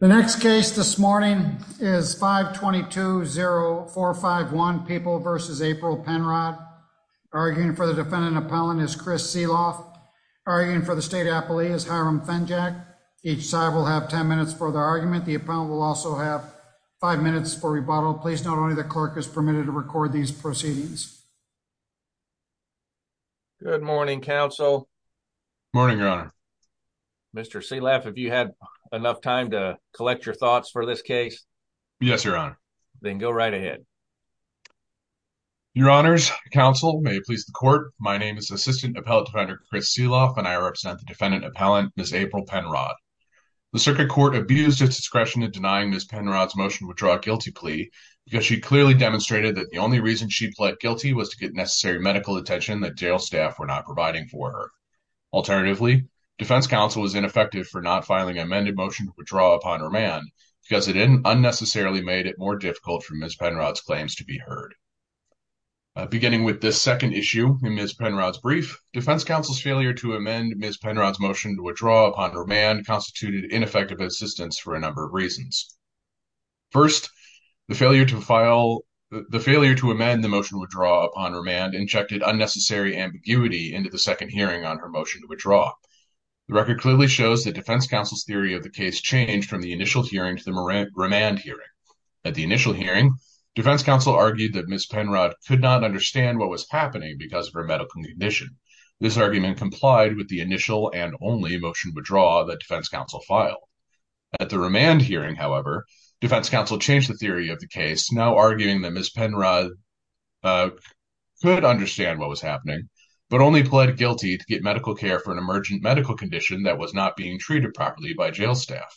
The next case this morning is 522-0451 People v. April Penrod. Arguing for the defendant appellant is Chris Sealoff. Arguing for the state appellee is Hiram Fenjack. Each side will have 10 minutes for their argument. The appellant will also have 5 minutes for rebuttal. Please note only the clerk is permitted to record these proceedings. Good morning, counsel. Morning, your honor. Mr. Sealoff, have you had enough time to collect your thoughts for this case? Yes, your honor. Then go right ahead. Your honors, counsel, may it please the court, my name is Assistant Appellant Defender Chris Sealoff and I represent the defendant appellant, Ms. April Penrod. The circuit court abused its discretion in denying Ms. Penrod's motion to withdraw a guilty plea because she clearly demonstrated that the only reason she pled guilty was to get necessary medical attention that jail staff were not providing for her. Alternatively, defense counsel was ineffective for not filing an amended motion to withdraw upon remand because it unnecessarily made it more difficult for Ms. Penrod's claims to be heard. Beginning with this second issue in Ms. Penrod's brief, defense counsel's failure to amend Ms. Penrod's motion to withdraw upon remand constituted ineffective assistance for a number of reasons. First, the failure to amend the motion to withdraw upon remand injected unnecessary ambiguity into the second hearing on her motion to withdraw. The record clearly shows that defense counsel's theory of the case changed from the initial hearing to the remand hearing. At the initial hearing, defense counsel argued that Ms. Penrod could not understand what was happening because of her medical condition. This argument complied with the initial and only motion to withdraw that defense counsel filed. At the remand hearing, however, defense counsel changed the theory of the case, now arguing that Ms. Penrod could understand what was happening but only pled guilty to get medical care for an emergent medical condition that was not being treated properly by jail staff.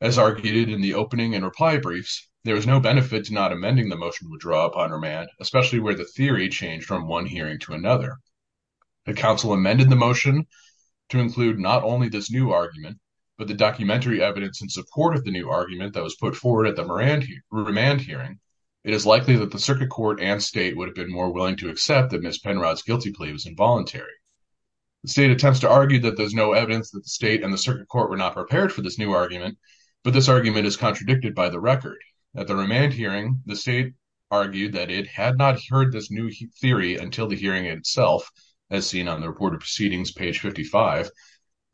As argued in the opening and reply briefs, there was no benefit to not amending the motion to withdraw upon remand, especially where the theory changed from one hearing to another. The counsel amended the motion to include not only this new argument but the documentary evidence in support of the new argument that was put forward at the remand hearing. It is likely that the circuit court and state would have been more willing to accept that Ms. Penrod's guilty plea was involuntary. The state attempts to argue that there's no evidence that the state and the circuit court were not prepared for this new argument, but this argument is contradicted by the record. At the remand hearing, the state argued that it had not heard this new theory until the hearing itself, as seen on the report of proceedings, page 55,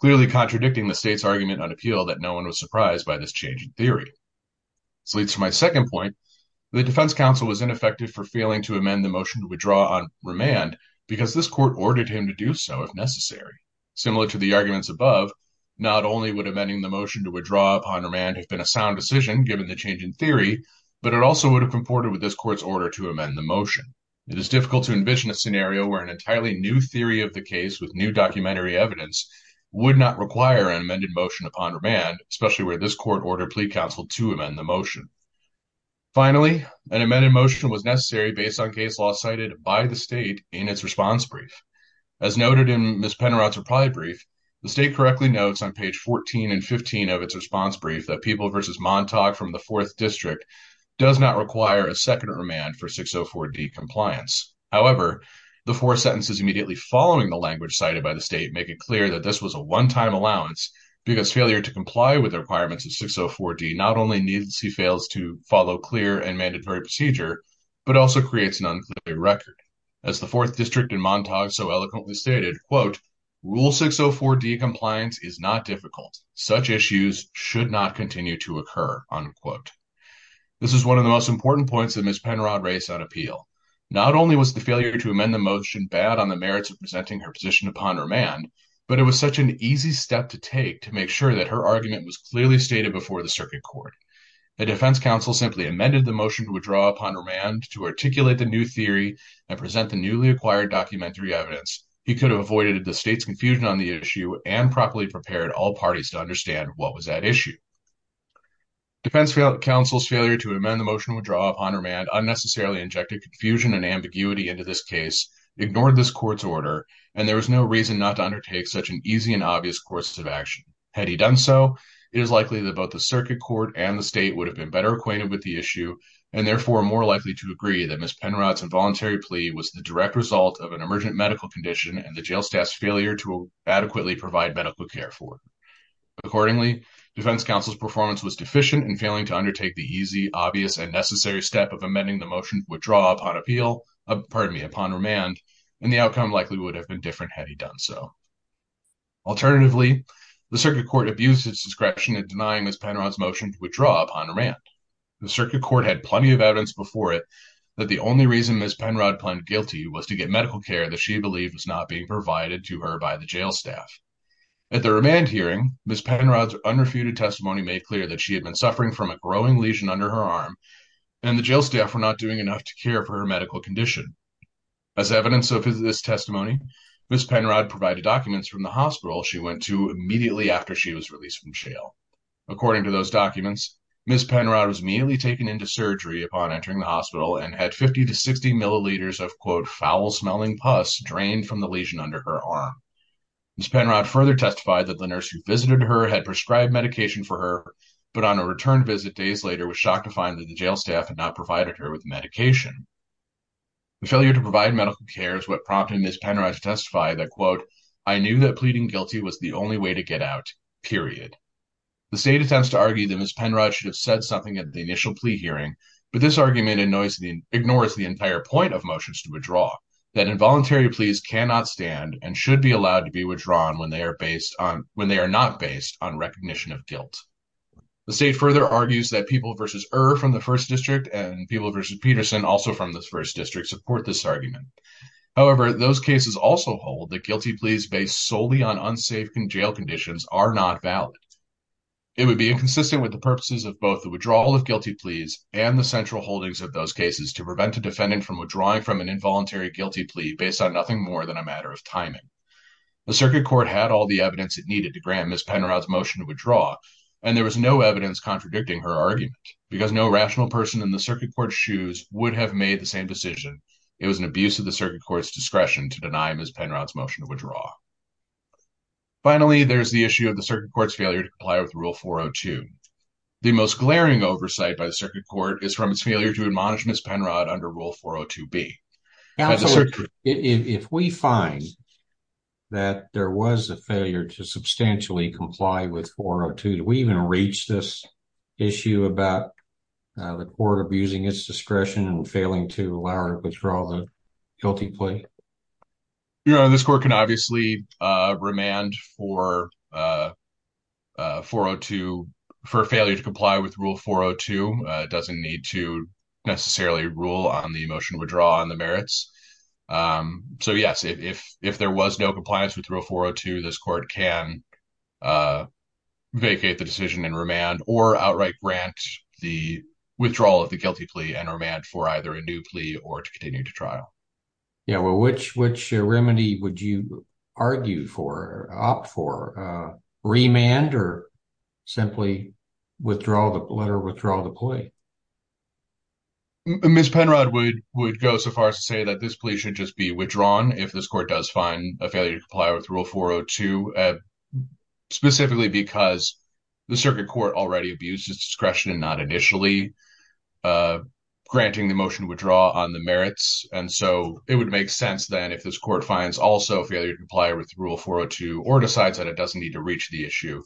clearly contradicting the state's argument on appeal that no one was surprised by this change in theory. This leads to my second point. The defense counsel was ineffective for failing to amend the motion to withdraw on remand because this court ordered him to do so if necessary. Similar to the arguments above, not only would amending the motion to withdraw upon remand have been a sound decision given the change in theory, but it also would have comported with this court's order to amend the motion. It is difficult to envision a scenario where an entirely new theory of the case with new documentary evidence would not require an amended motion upon remand, especially where this court ordered plea counsel to amend the motion. Finally, an amended motion was necessary based on case law cited by the state in its response brief. As noted in Ms. Pennerot's reply brief, the state correctly notes on page 14 and 15 of its response brief that People v. Montauk from the 4th District does not require a second remand for 604D compliance. However, the four sentences immediately following the language cited by the state make it clear that this was a one-time allowance because failure to comply with the requirements of 604D not only means he fails to follow clear and mandatory procedure, but also creates an unclear record. As the 4th District in Montauk so eloquently stated, quote, Rule 604D compliance is not difficult. Such issues should not continue to occur, unquote. This is one of the most important points that Ms. Pennerot raised on appeal. Not only was the failure to amend the motion bad on the merits of presenting her position upon remand, but it was such an easy step to take to make sure that her argument was clearly stated before the circuit court. The defense counsel simply amended the motion to withdraw upon remand to articulate the new theory and present the newly acquired documentary evidence. He could have avoided the state's confusion on the issue and properly prepared all parties to understand what was at issue. Defense counsel's failure to amend the motion to withdraw upon remand unnecessarily injected confusion and ambiguity into this case, ignored this court's order, and there was no reason not to undertake such an easy and obvious course of action. Had he done so, it is likely that both the circuit court and the state would have been better acquainted with the issue and therefore more likely to agree that Ms. Pennerot's involuntary plea was the direct result of an emergent medical condition and the jail staff's failure to adequately provide medical care for it. Accordingly, defense counsel's performance was deficient in failing to undertake the easy, obvious, and necessary step of amending the motion to withdraw upon appeal, pardon me, upon remand, and the outcome likely would have been different had he done so. Alternatively, the circuit court abused its discretion in denying Ms. Pennerot's motion to withdraw upon remand. The circuit court had plenty of evidence before it that the only reason Ms. Pennerot pled guilty was to get medical care that she believed was not being provided to her by the jail staff. At the remand hearing, Ms. Pennerot's unrefuted testimony made clear that she had been suffering from a growing lesion under her arm and the jail staff were not doing enough to care for her medical condition. As evidence of this testimony, Ms. Pennerot provided documents from the hospital she went to immediately after she was released from jail. According to those documents, Ms. Pennerot was immediately taken into surgery upon entering the hospital and had 50 to 60 milliliters of quote, foul-smelling pus drained from the lesion under her arm. Ms. Pennerot further testified that the nurse who visited her had prescribed medication for her, but on a return visit days later was shocked to find that the jail staff had not provided her with medication. The failure to provide medical care is what prompted Ms. Pennerot to testify that quote, I knew that pleading guilty was the only way to get out, period. The state attempts to argue that Ms. Pennerot should have said something at the initial plea hearing, but this argument ignores the entire point of motions to withdraw, that involuntary pleas cannot stand and should be allowed to be withdrawn when they are not based on recognition of guilt. The state further argues that People v. Err from the First District and People v. Peterson also from the First District support this argument. However, those cases also hold that guilty pleas based solely on unsafe jail conditions are not valid. It would be inconsistent with the purposes of both the withdrawal of guilty pleas and the central holdings of those cases to prevent a defendant from withdrawing from an involuntary guilty plea based on nothing more than a matter of timing. The circuit court had all the evidence it needed to grant Ms. Pennerot's motion to withdraw, and there was no evidence contradicting her argument because no rational person in the circuit court's shoes would have made the same decision. It was an abuse of the circuit court's discretion to deny Ms. Pennerot's motion to withdraw. Finally, there's the issue of the circuit court's failure to comply with Rule 402. The most glaring oversight by the circuit court is from its failure to admonish Ms. Pennerot under Rule 402B. If we find that there was a failure to substantially comply with 402, do we even reach this issue about the court abusing its discretion and failing to allow her to withdraw the guilty plea? This court can obviously remand for failure to comply with Rule 402. It doesn't need to necessarily rule on the motion to withdraw and the merits. So, yes, if there was no compliance with Rule 402, this court can vacate the decision and remand or outright grant the withdrawal of the guilty plea and remand for either a new plea or to continue to trial. Yeah, well, which remedy would you argue for, opt for? Ms. Pennerot would go so far as to say that this plea should just be withdrawn if this court does find a failure to comply with Rule 402, specifically because the circuit court already abused its discretion and not initially granting the motion to withdraw on the merits. And so it would make sense then if this court finds also failure to comply with Rule 402 or decides that it doesn't need to reach the issue,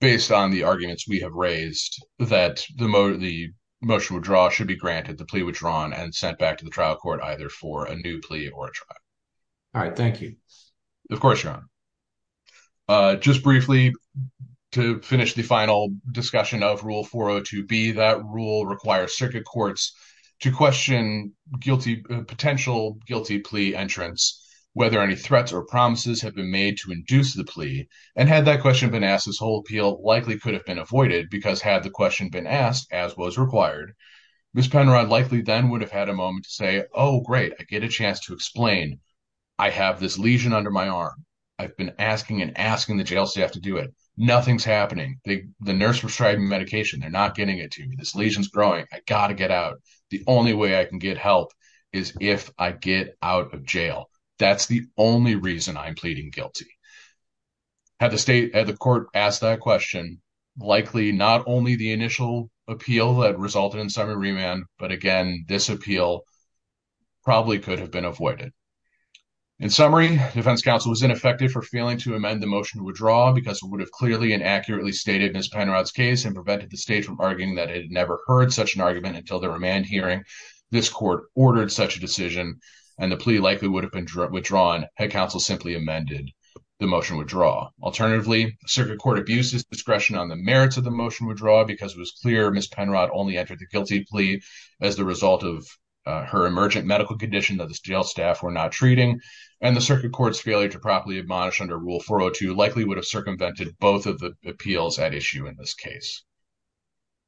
based on the arguments we have raised, that the motion withdrawal should be granted, the plea withdrawn, and sent back to the trial court either for a new plea or a trial. All right. Thank you. Of course, John. Just briefly, to finish the final discussion of Rule 402B, that rule requires circuit courts to question potential guilty plea entrants whether any threats or promises have been made to induce the plea. And had that question been asked, this whole appeal likely could have been avoided because had the question been asked, as was required, Ms. Pennerot likely then would have had a moment to say, oh, great, I get a chance to explain. I have this lesion under my arm. I've been asking and asking the jail staff to do it. Nothing's happening. The nurse prescribed me medication. They're not getting it to me. This lesion's growing. I've got to get out. The only way I can get help is if I get out of jail. That's the only reason I'm pleading guilty. Had the court asked that question, likely not only the initial appeal that resulted in summary remand, but, again, this appeal probably could have been avoided. In summary, defense counsel was ineffective for failing to amend the motion to withdraw because it would have clearly and accurately stated Ms. Pennerot's case and prevented the state from arguing that it had never heard such an argument until the remand hearing. This court ordered such a decision, and the plea likely would have been withdrawn had counsel simply amended the motion withdrawal. Alternatively, circuit court abuses discretion on the merits of the motion withdrawal because it was clear Ms. Pennerot only entered the guilty plea as the result of her emergent medical condition that the jail staff were not treating, and the circuit court's failure to properly admonish under Rule 402 likely would have circumvented both of the appeals at issue in this case.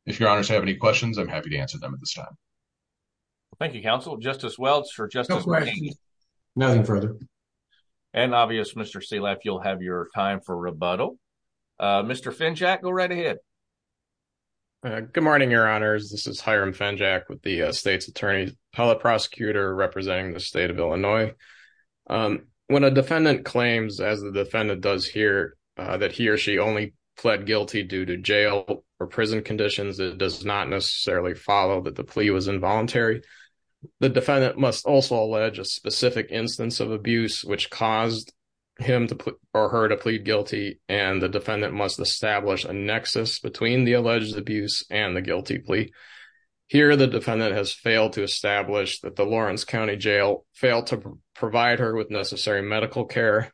If your honors have any questions, I'm happy to answer them at this time. Well, thank you, counsel. Justice Welch or Justice McGee? Nothing further. And obvious, Mr. Seleff, you'll have your time for rebuttal. Mr. Fenjack, go right ahead. Good morning, your honors. This is Hiram Fenjack with the state's attorney's appellate prosecutor representing the state of Illinois. When a defendant claims, as the defendant does here, that he or she only pled guilty due to jail or prison conditions, it does not necessarily follow that the plea was involuntary. The defendant must also allege a specific instance of abuse which caused him or her to plead guilty, and the defendant must establish a nexus between the alleged abuse and the guilty plea. Here the defendant has failed to establish that the Lawrence County Jail failed to provide her with necessary medical care,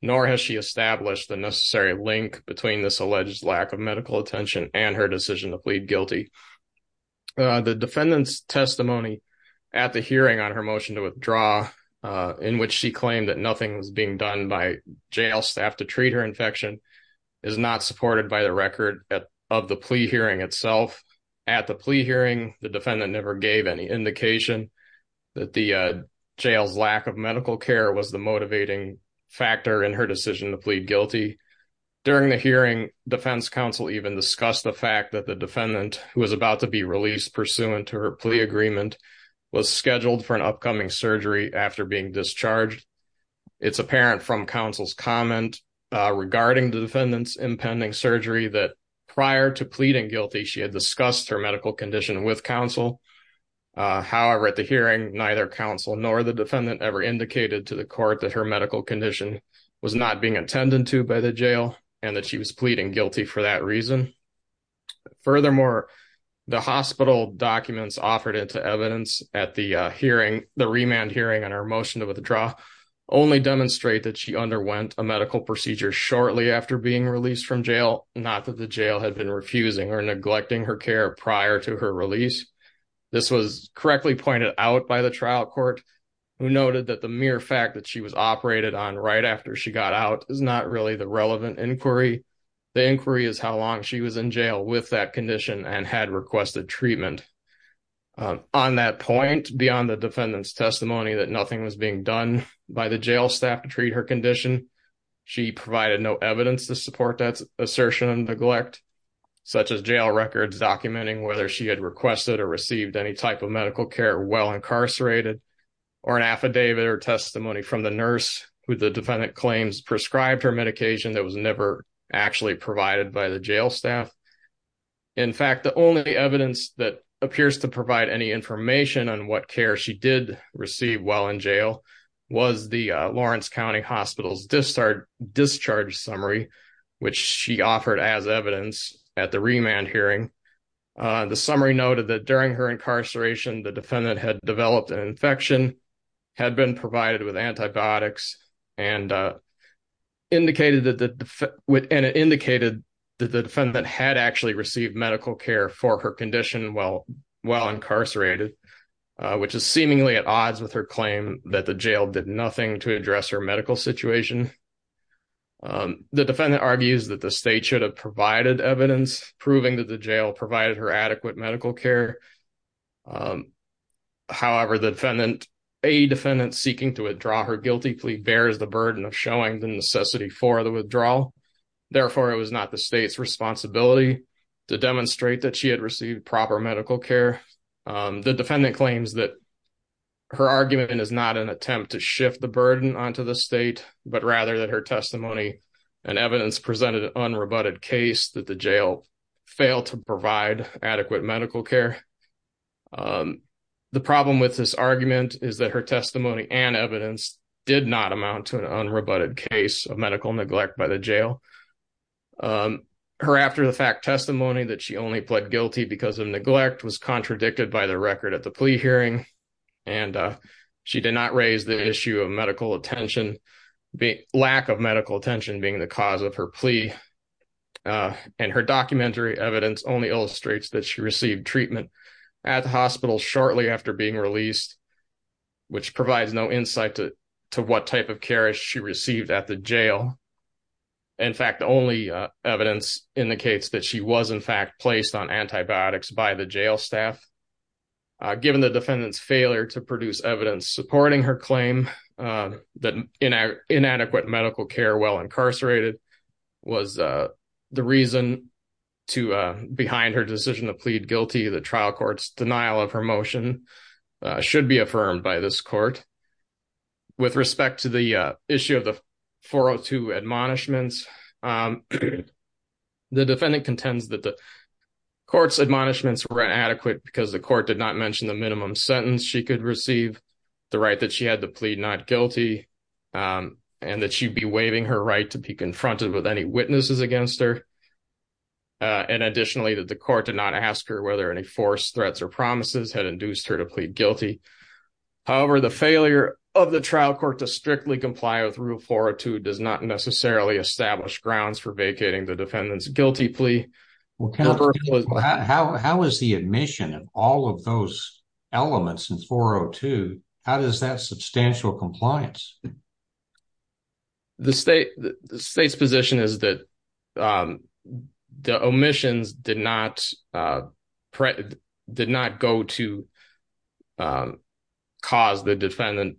nor has she established the necessary link between this alleged lack of medical attention and her decision to plead guilty. The defendant's testimony at the hearing on her motion to withdraw, in which she claimed that nothing was being done by jail staff to treat her infection, is not supported by the record of the plea hearing itself. At the plea hearing, the defendant never gave any indication that the jail's lack of medical care was the motivating factor in her decision to plead guilty. During the hearing, defense counsel even discussed the fact that the defendant, who was about to be released pursuant to her plea agreement, was scheduled for an upcoming surgery after being discharged. It's apparent from counsel's comment regarding the defendant's impending surgery that prior to pleading guilty, she had discussed her medical condition with counsel. However, at the hearing, neither counsel nor the defendant ever indicated to the court that her medical condition was not being attended to by the jail and that she was pleading guilty for that reason. Furthermore, the hospital documents offered into evidence at the remand hearing on her motion to withdraw only demonstrate that she underwent a medical procedure shortly after being released from jail, not that the jail had been refusing or neglecting her care prior to her release. This was correctly pointed out by the trial court, who noted that the mere fact that she was operated on right after she got out is not really the relevant inquiry. The inquiry is how long she was in jail with that condition and had requested treatment. On that point, beyond the defendant's testimony that nothing was being done by the jail staff to treat her condition, she provided no evidence to support that assertion and neglect, such as jail records documenting whether she had requested or received any type of medical care while incarcerated or an affidavit or testimony from the nurse who the defendant claims prescribed her medication that was never actually provided by the jail staff. In fact, the only evidence that appears to provide any information on what care she did receive while in jail was the Lawrence County Hospital's discharge summary, which she offered as evidence at the remand hearing. The summary noted that during her incarceration, the defendant had developed an infection, had been provided with antibiotics, and it indicated that the defendant had actually received medical care for her condition while incarcerated, which is seemingly at odds with her claim that the jail did nothing to address her medical situation. The defendant argues that the state should have provided evidence proving that the jail provided her adequate medical care. However, a defendant seeking to withdraw her guilty plea bears the burden of showing the necessity for the withdrawal. Therefore, it was not the state's responsibility to demonstrate that she had received proper medical care. The defendant claims that her argument is not an attempt to shift the burden onto the state, but rather that her testimony and evidence presented an unrebutted case that the jail failed to provide adequate medical care. The problem with this argument is that her testimony and evidence did not amount to an unrebutted case of medical neglect by the jail. Her after-the-fact testimony that she only pled guilty because of neglect was contradicted by the record at the plea hearing, and she did not raise the issue of medical attention, lack of medical attention being the cause of her plea. And her documentary evidence only illustrates that she received treatment at the hospital shortly after being released, which provides no insight to what type of care she received at the jail. In fact, the only evidence indicates that she was, in fact, placed on antibiotics by the jail staff. Given the defendant's failure to produce evidence supporting her claim, that inadequate medical care while incarcerated was the reason behind her decision to plead guilty, the trial court's denial of her motion should be affirmed by this court. With respect to the issue of the 402 admonishments, the defendant contends that the court's admonishments were inadequate because the court did not mention the minimum sentence she could receive, the right that she had to plead not guilty, and that she'd be waiving her right to be confronted with any witnesses against her. And additionally, that the court did not ask her whether any forced threats or promises had induced her to plead guilty. However, the failure of the trial court to strictly comply with Rule 402 does not necessarily establish grounds for vacating the defendant's guilty plea. How is the admission of all of those elements in 402, how does that substantial compliance? The state's position is that the omissions did not go to cause the defendant,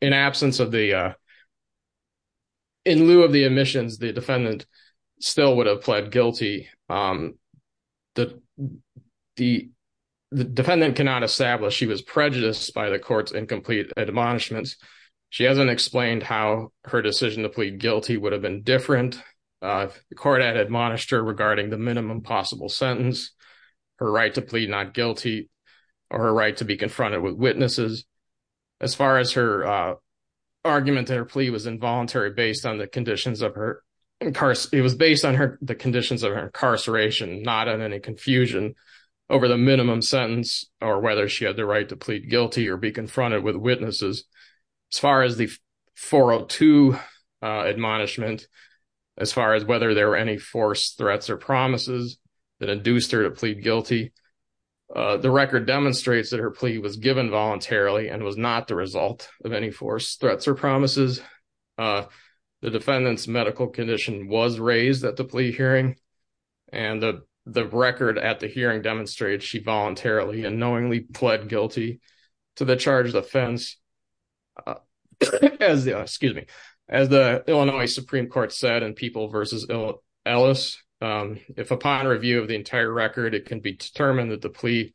in absence of the, in lieu of the omissions, the defendant still would have pled guilty. The defendant cannot establish she was prejudiced by the court's incomplete admonishments. She hasn't explained how her decision to plead guilty would have been different. The court had admonished her regarding the minimum possible sentence, her right to plead not guilty, or her right to be confronted with witnesses. As far as her argument that her plea was involuntary based on the conditions of her, it was based on the conditions of her incarceration, not on any confusion over the minimum sentence, or whether she had the right to plead guilty or be confronted with witnesses. As far as the 402 admonishment, as far as whether there were any forced threats or promises that induced her to plead guilty, the record demonstrates that her plea was given voluntarily and was not the result of any forced threats or promises. The defendant's medical condition was raised at the plea hearing, and the record at the hearing demonstrated she voluntarily and knowingly pled guilty to the charge of offense. As the, excuse me, as the Illinois Supreme Court said in People versus Ellis, if upon review of the entire record, it can be determined that the plea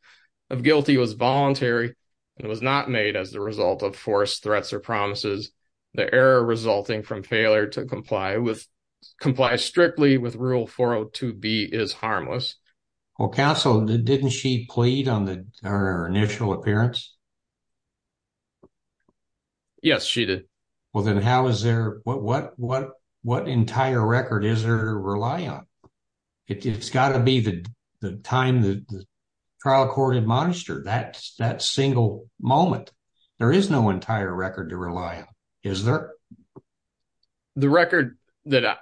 of guilty was voluntary and was not made as the result of forced threats or promises. The error resulting from failure to comply with, comply strictly with rule 402B is harmless. Well, counsel, didn't she plead on the, her initial appearance? Yes, she did. Well, then how is there, what, what, what, what entire record is there to rely on? It's got to be the time that the trial court admonished her. That's that single moment. There is no entire record to rely on. Is there? The record that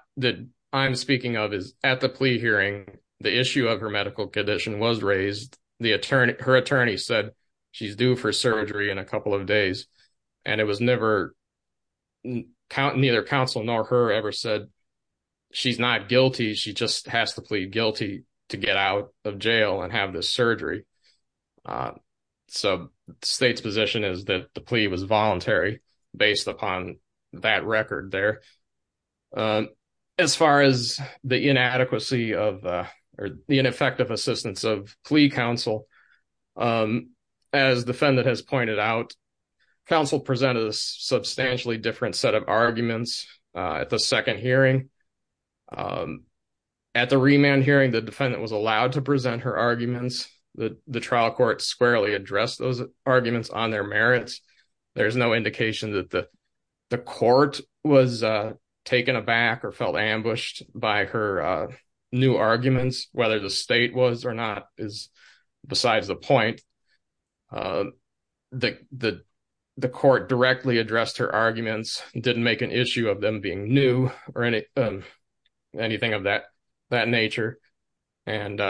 I'm speaking of is at the plea hearing, the issue of her medical condition was raised. The attorney, her attorney said she's due for surgery in a couple of days and it was never, neither counsel nor her ever said she's not guilty. She just has to plead guilty to get out of jail and have the surgery. So state's position is that the plea was voluntary based upon that record there. As far as the inadequacy of, or the ineffective assistance of plea counsel, as defendant has pointed out, counsel presented a substantially different set of arguments at the second hearing. At the remand hearing, the defendant was allowed to present her arguments. The trial court squarely addressed those arguments on their merits. There's no indication that the, the court was taken aback or felt ambushed by her new arguments, whether the state was or not is besides the point. The, the, the court directly addressed her arguments. It didn't make an issue of them being new or any, anything of that, that nature. And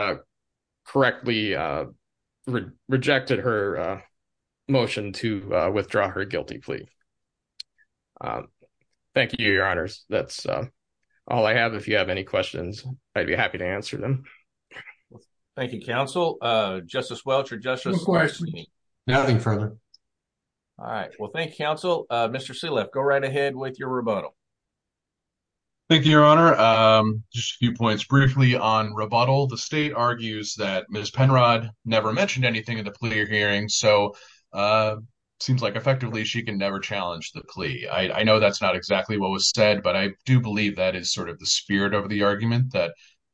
correctly rejected her motion to withdraw her guilty plea. Thank you, your honors. That's all I have. If you have any questions, I'd be happy to answer them. Thank you. Counsel, justice Welch or justice. Nothing further. All right. Well, thank you counsel. Mr. See left, go right ahead with your rebuttal. Thank you, your honor. Just a few points. Briefly on rebuttal. The state argues that Ms. Penrod never mentioned anything in the plea hearing. So seems like effectively she can never challenge the plea. I know that's not exactly what was said, but I do believe that is sort of the spirit of the argument that.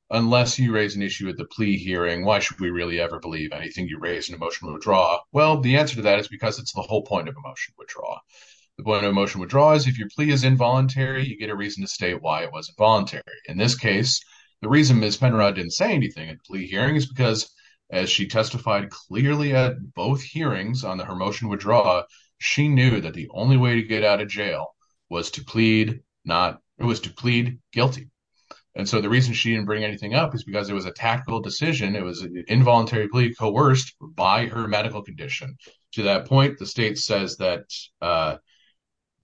Unless you raise an issue with the plea hearing, why should we really ever believe anything you raise an emotional draw? Well, the answer to that is because it's the whole point of emotion withdraw. The point of emotion withdraws. If your plea is involuntary, you get a reason to state why it was voluntary. In this case, the reason Ms. Penrod didn't say anything and plea hearings, because as she testified clearly at both hearings on the, her motion would draw. She knew that the only way to get out of jail was to plead. Not it was to plead guilty. And so the reason she didn't bring anything up is because it was a tactical decision. It was an involuntary plea coerced by her medical condition. To that point, The state says that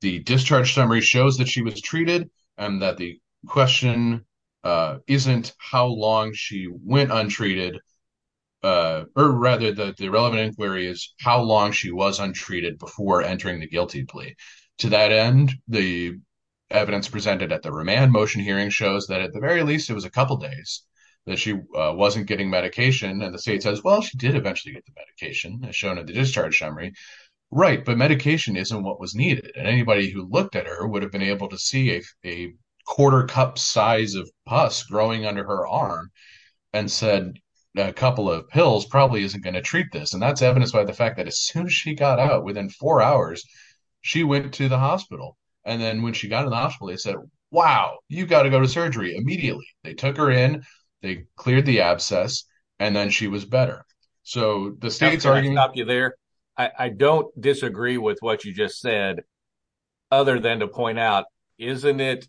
the discharge summary shows that she was treated and that the question isn't how long she went untreated. Or rather the relevant inquiry is how long she was untreated before entering the guilty plea. To that end, the evidence presented at the remand motion hearing shows that at the very least, it was a couple of days that she wasn't getting medication. And the state says, well, she did eventually get the medication as shown at the discharge summary. Right. But medication isn't what was needed. And anybody who looked at her would have been able to see a, a quarter cup size of pus growing under her arm and said, a couple of pills probably isn't going to treat this. And that's evidenced by the fact that as soon as she got out within four hours, she went to the hospital. And then when she got in the hospital, they said, wow, you've got to go to surgery immediately. They took her in, they cleared the abscess. And then she was better. So the state's already there. I don't disagree with what you just said. Other than to point out, isn't it.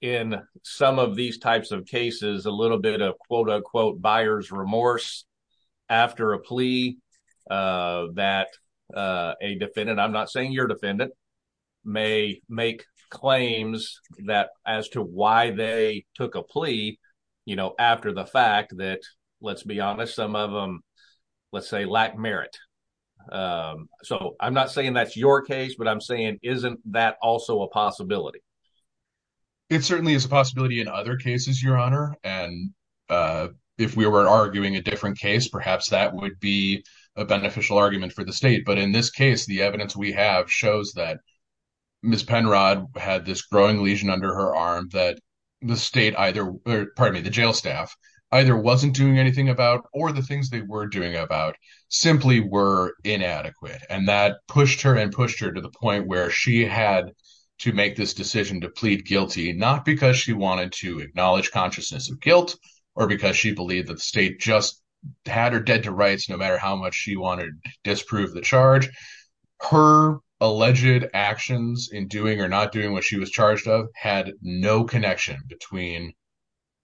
In some of these types of cases, a little bit of quote, unquote, buyer's remorse. After a plea that a defendant, I'm not saying your defendant. May make claims that as to why they took a plea, you know, After the fact that let's be honest, some of them, let's say lack merit. So I'm not saying that's your case, but I'm saying, isn't that also a possibility? It certainly is a possibility in other cases, your honor. And if we were arguing a different case, perhaps that would be a beneficial argument for the state. But in this case, the evidence we have shows that Ms. Penrod had this growing lesion under her arm that the state either, pardon me, the jail staff. Either wasn't doing anything about, or the things they were doing about simply were inadequate. And that pushed her and pushed her to the point where she had to make this decision to plead guilty, not because she wanted to acknowledge consciousness of guilt or because she believed that the state just had her dead to rights, no matter how much she wanted to disprove the charge. Her alleged actions in doing or not doing what she was charged of had no connection between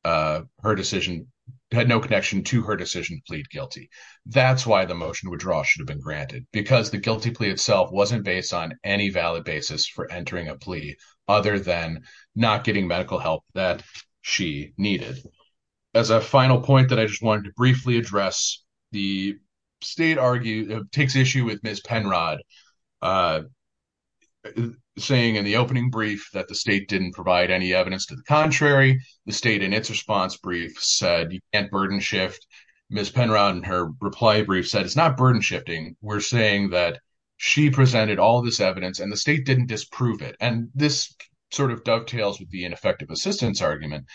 her decision had no connection to her decision to plead guilty. That's why the motion would draw should have been granted because the guilty plea itself wasn't based on any valid basis for entering a plea other than not getting medical help that she needed. As a final point that I just wanted to briefly address, the state argue takes issue with Ms. Penrod saying in the opening brief that the state didn't provide any evidence to the contrary. The state in its response brief said you can't burden shift. Ms. Penrod in her reply brief said it's not burden shifting. We're saying that she presented all of this evidence and the state didn't disprove it. And this sort of dovetails with the ineffective assistance argument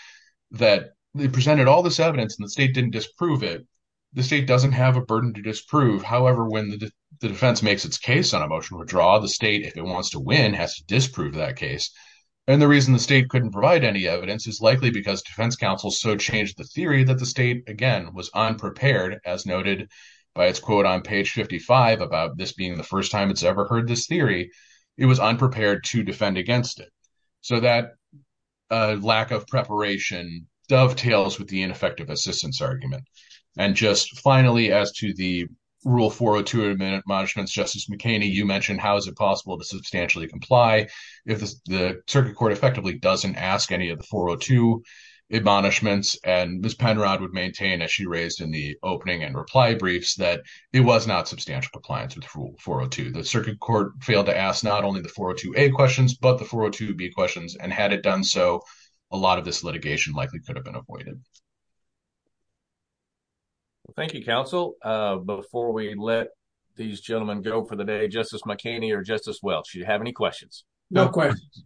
that they presented all this evidence and the state didn't disprove it. The state doesn't have a burden to disprove. However, when the defense makes its case on a motion would draw the state, if it wants to win has to disprove that case. And the reason the state couldn't provide any evidence is likely because defense counsel so changed the theory that the state, again, was unprepared as noted by its quote on page 55 about this being the first time it's ever heard this theory. It was unprepared to defend against it. So that lack of preparation dovetails with the ineffective assistance argument. And just finally, as to the rule 402, a minute management's justice McKinney, you mentioned how is it possible to substantially comply if the circuit court effectively doesn't ask any of the 402 admonishments and Ms. Penrod would maintain as she raised in the opening and reply briefs that it was not substantial compliance with rule 402. The circuit court failed to ask not only the 402A questions, but the 402B questions. And had it done so a lot of this litigation likely could have been avoided. Thank you, counsel. Before we let these gentlemen go for the day, Justice McKinney or Justice Welch, do you have any questions? No questions.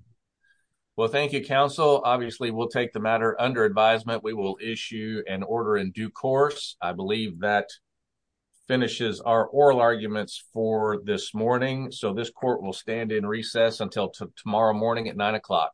Well, thank you, counsel. Obviously we'll take the matter under advisement. We will issue an order in due course. I believe that finishes our oral arguments for this morning. So this court will stand in recess until tomorrow morning at nine o'clock.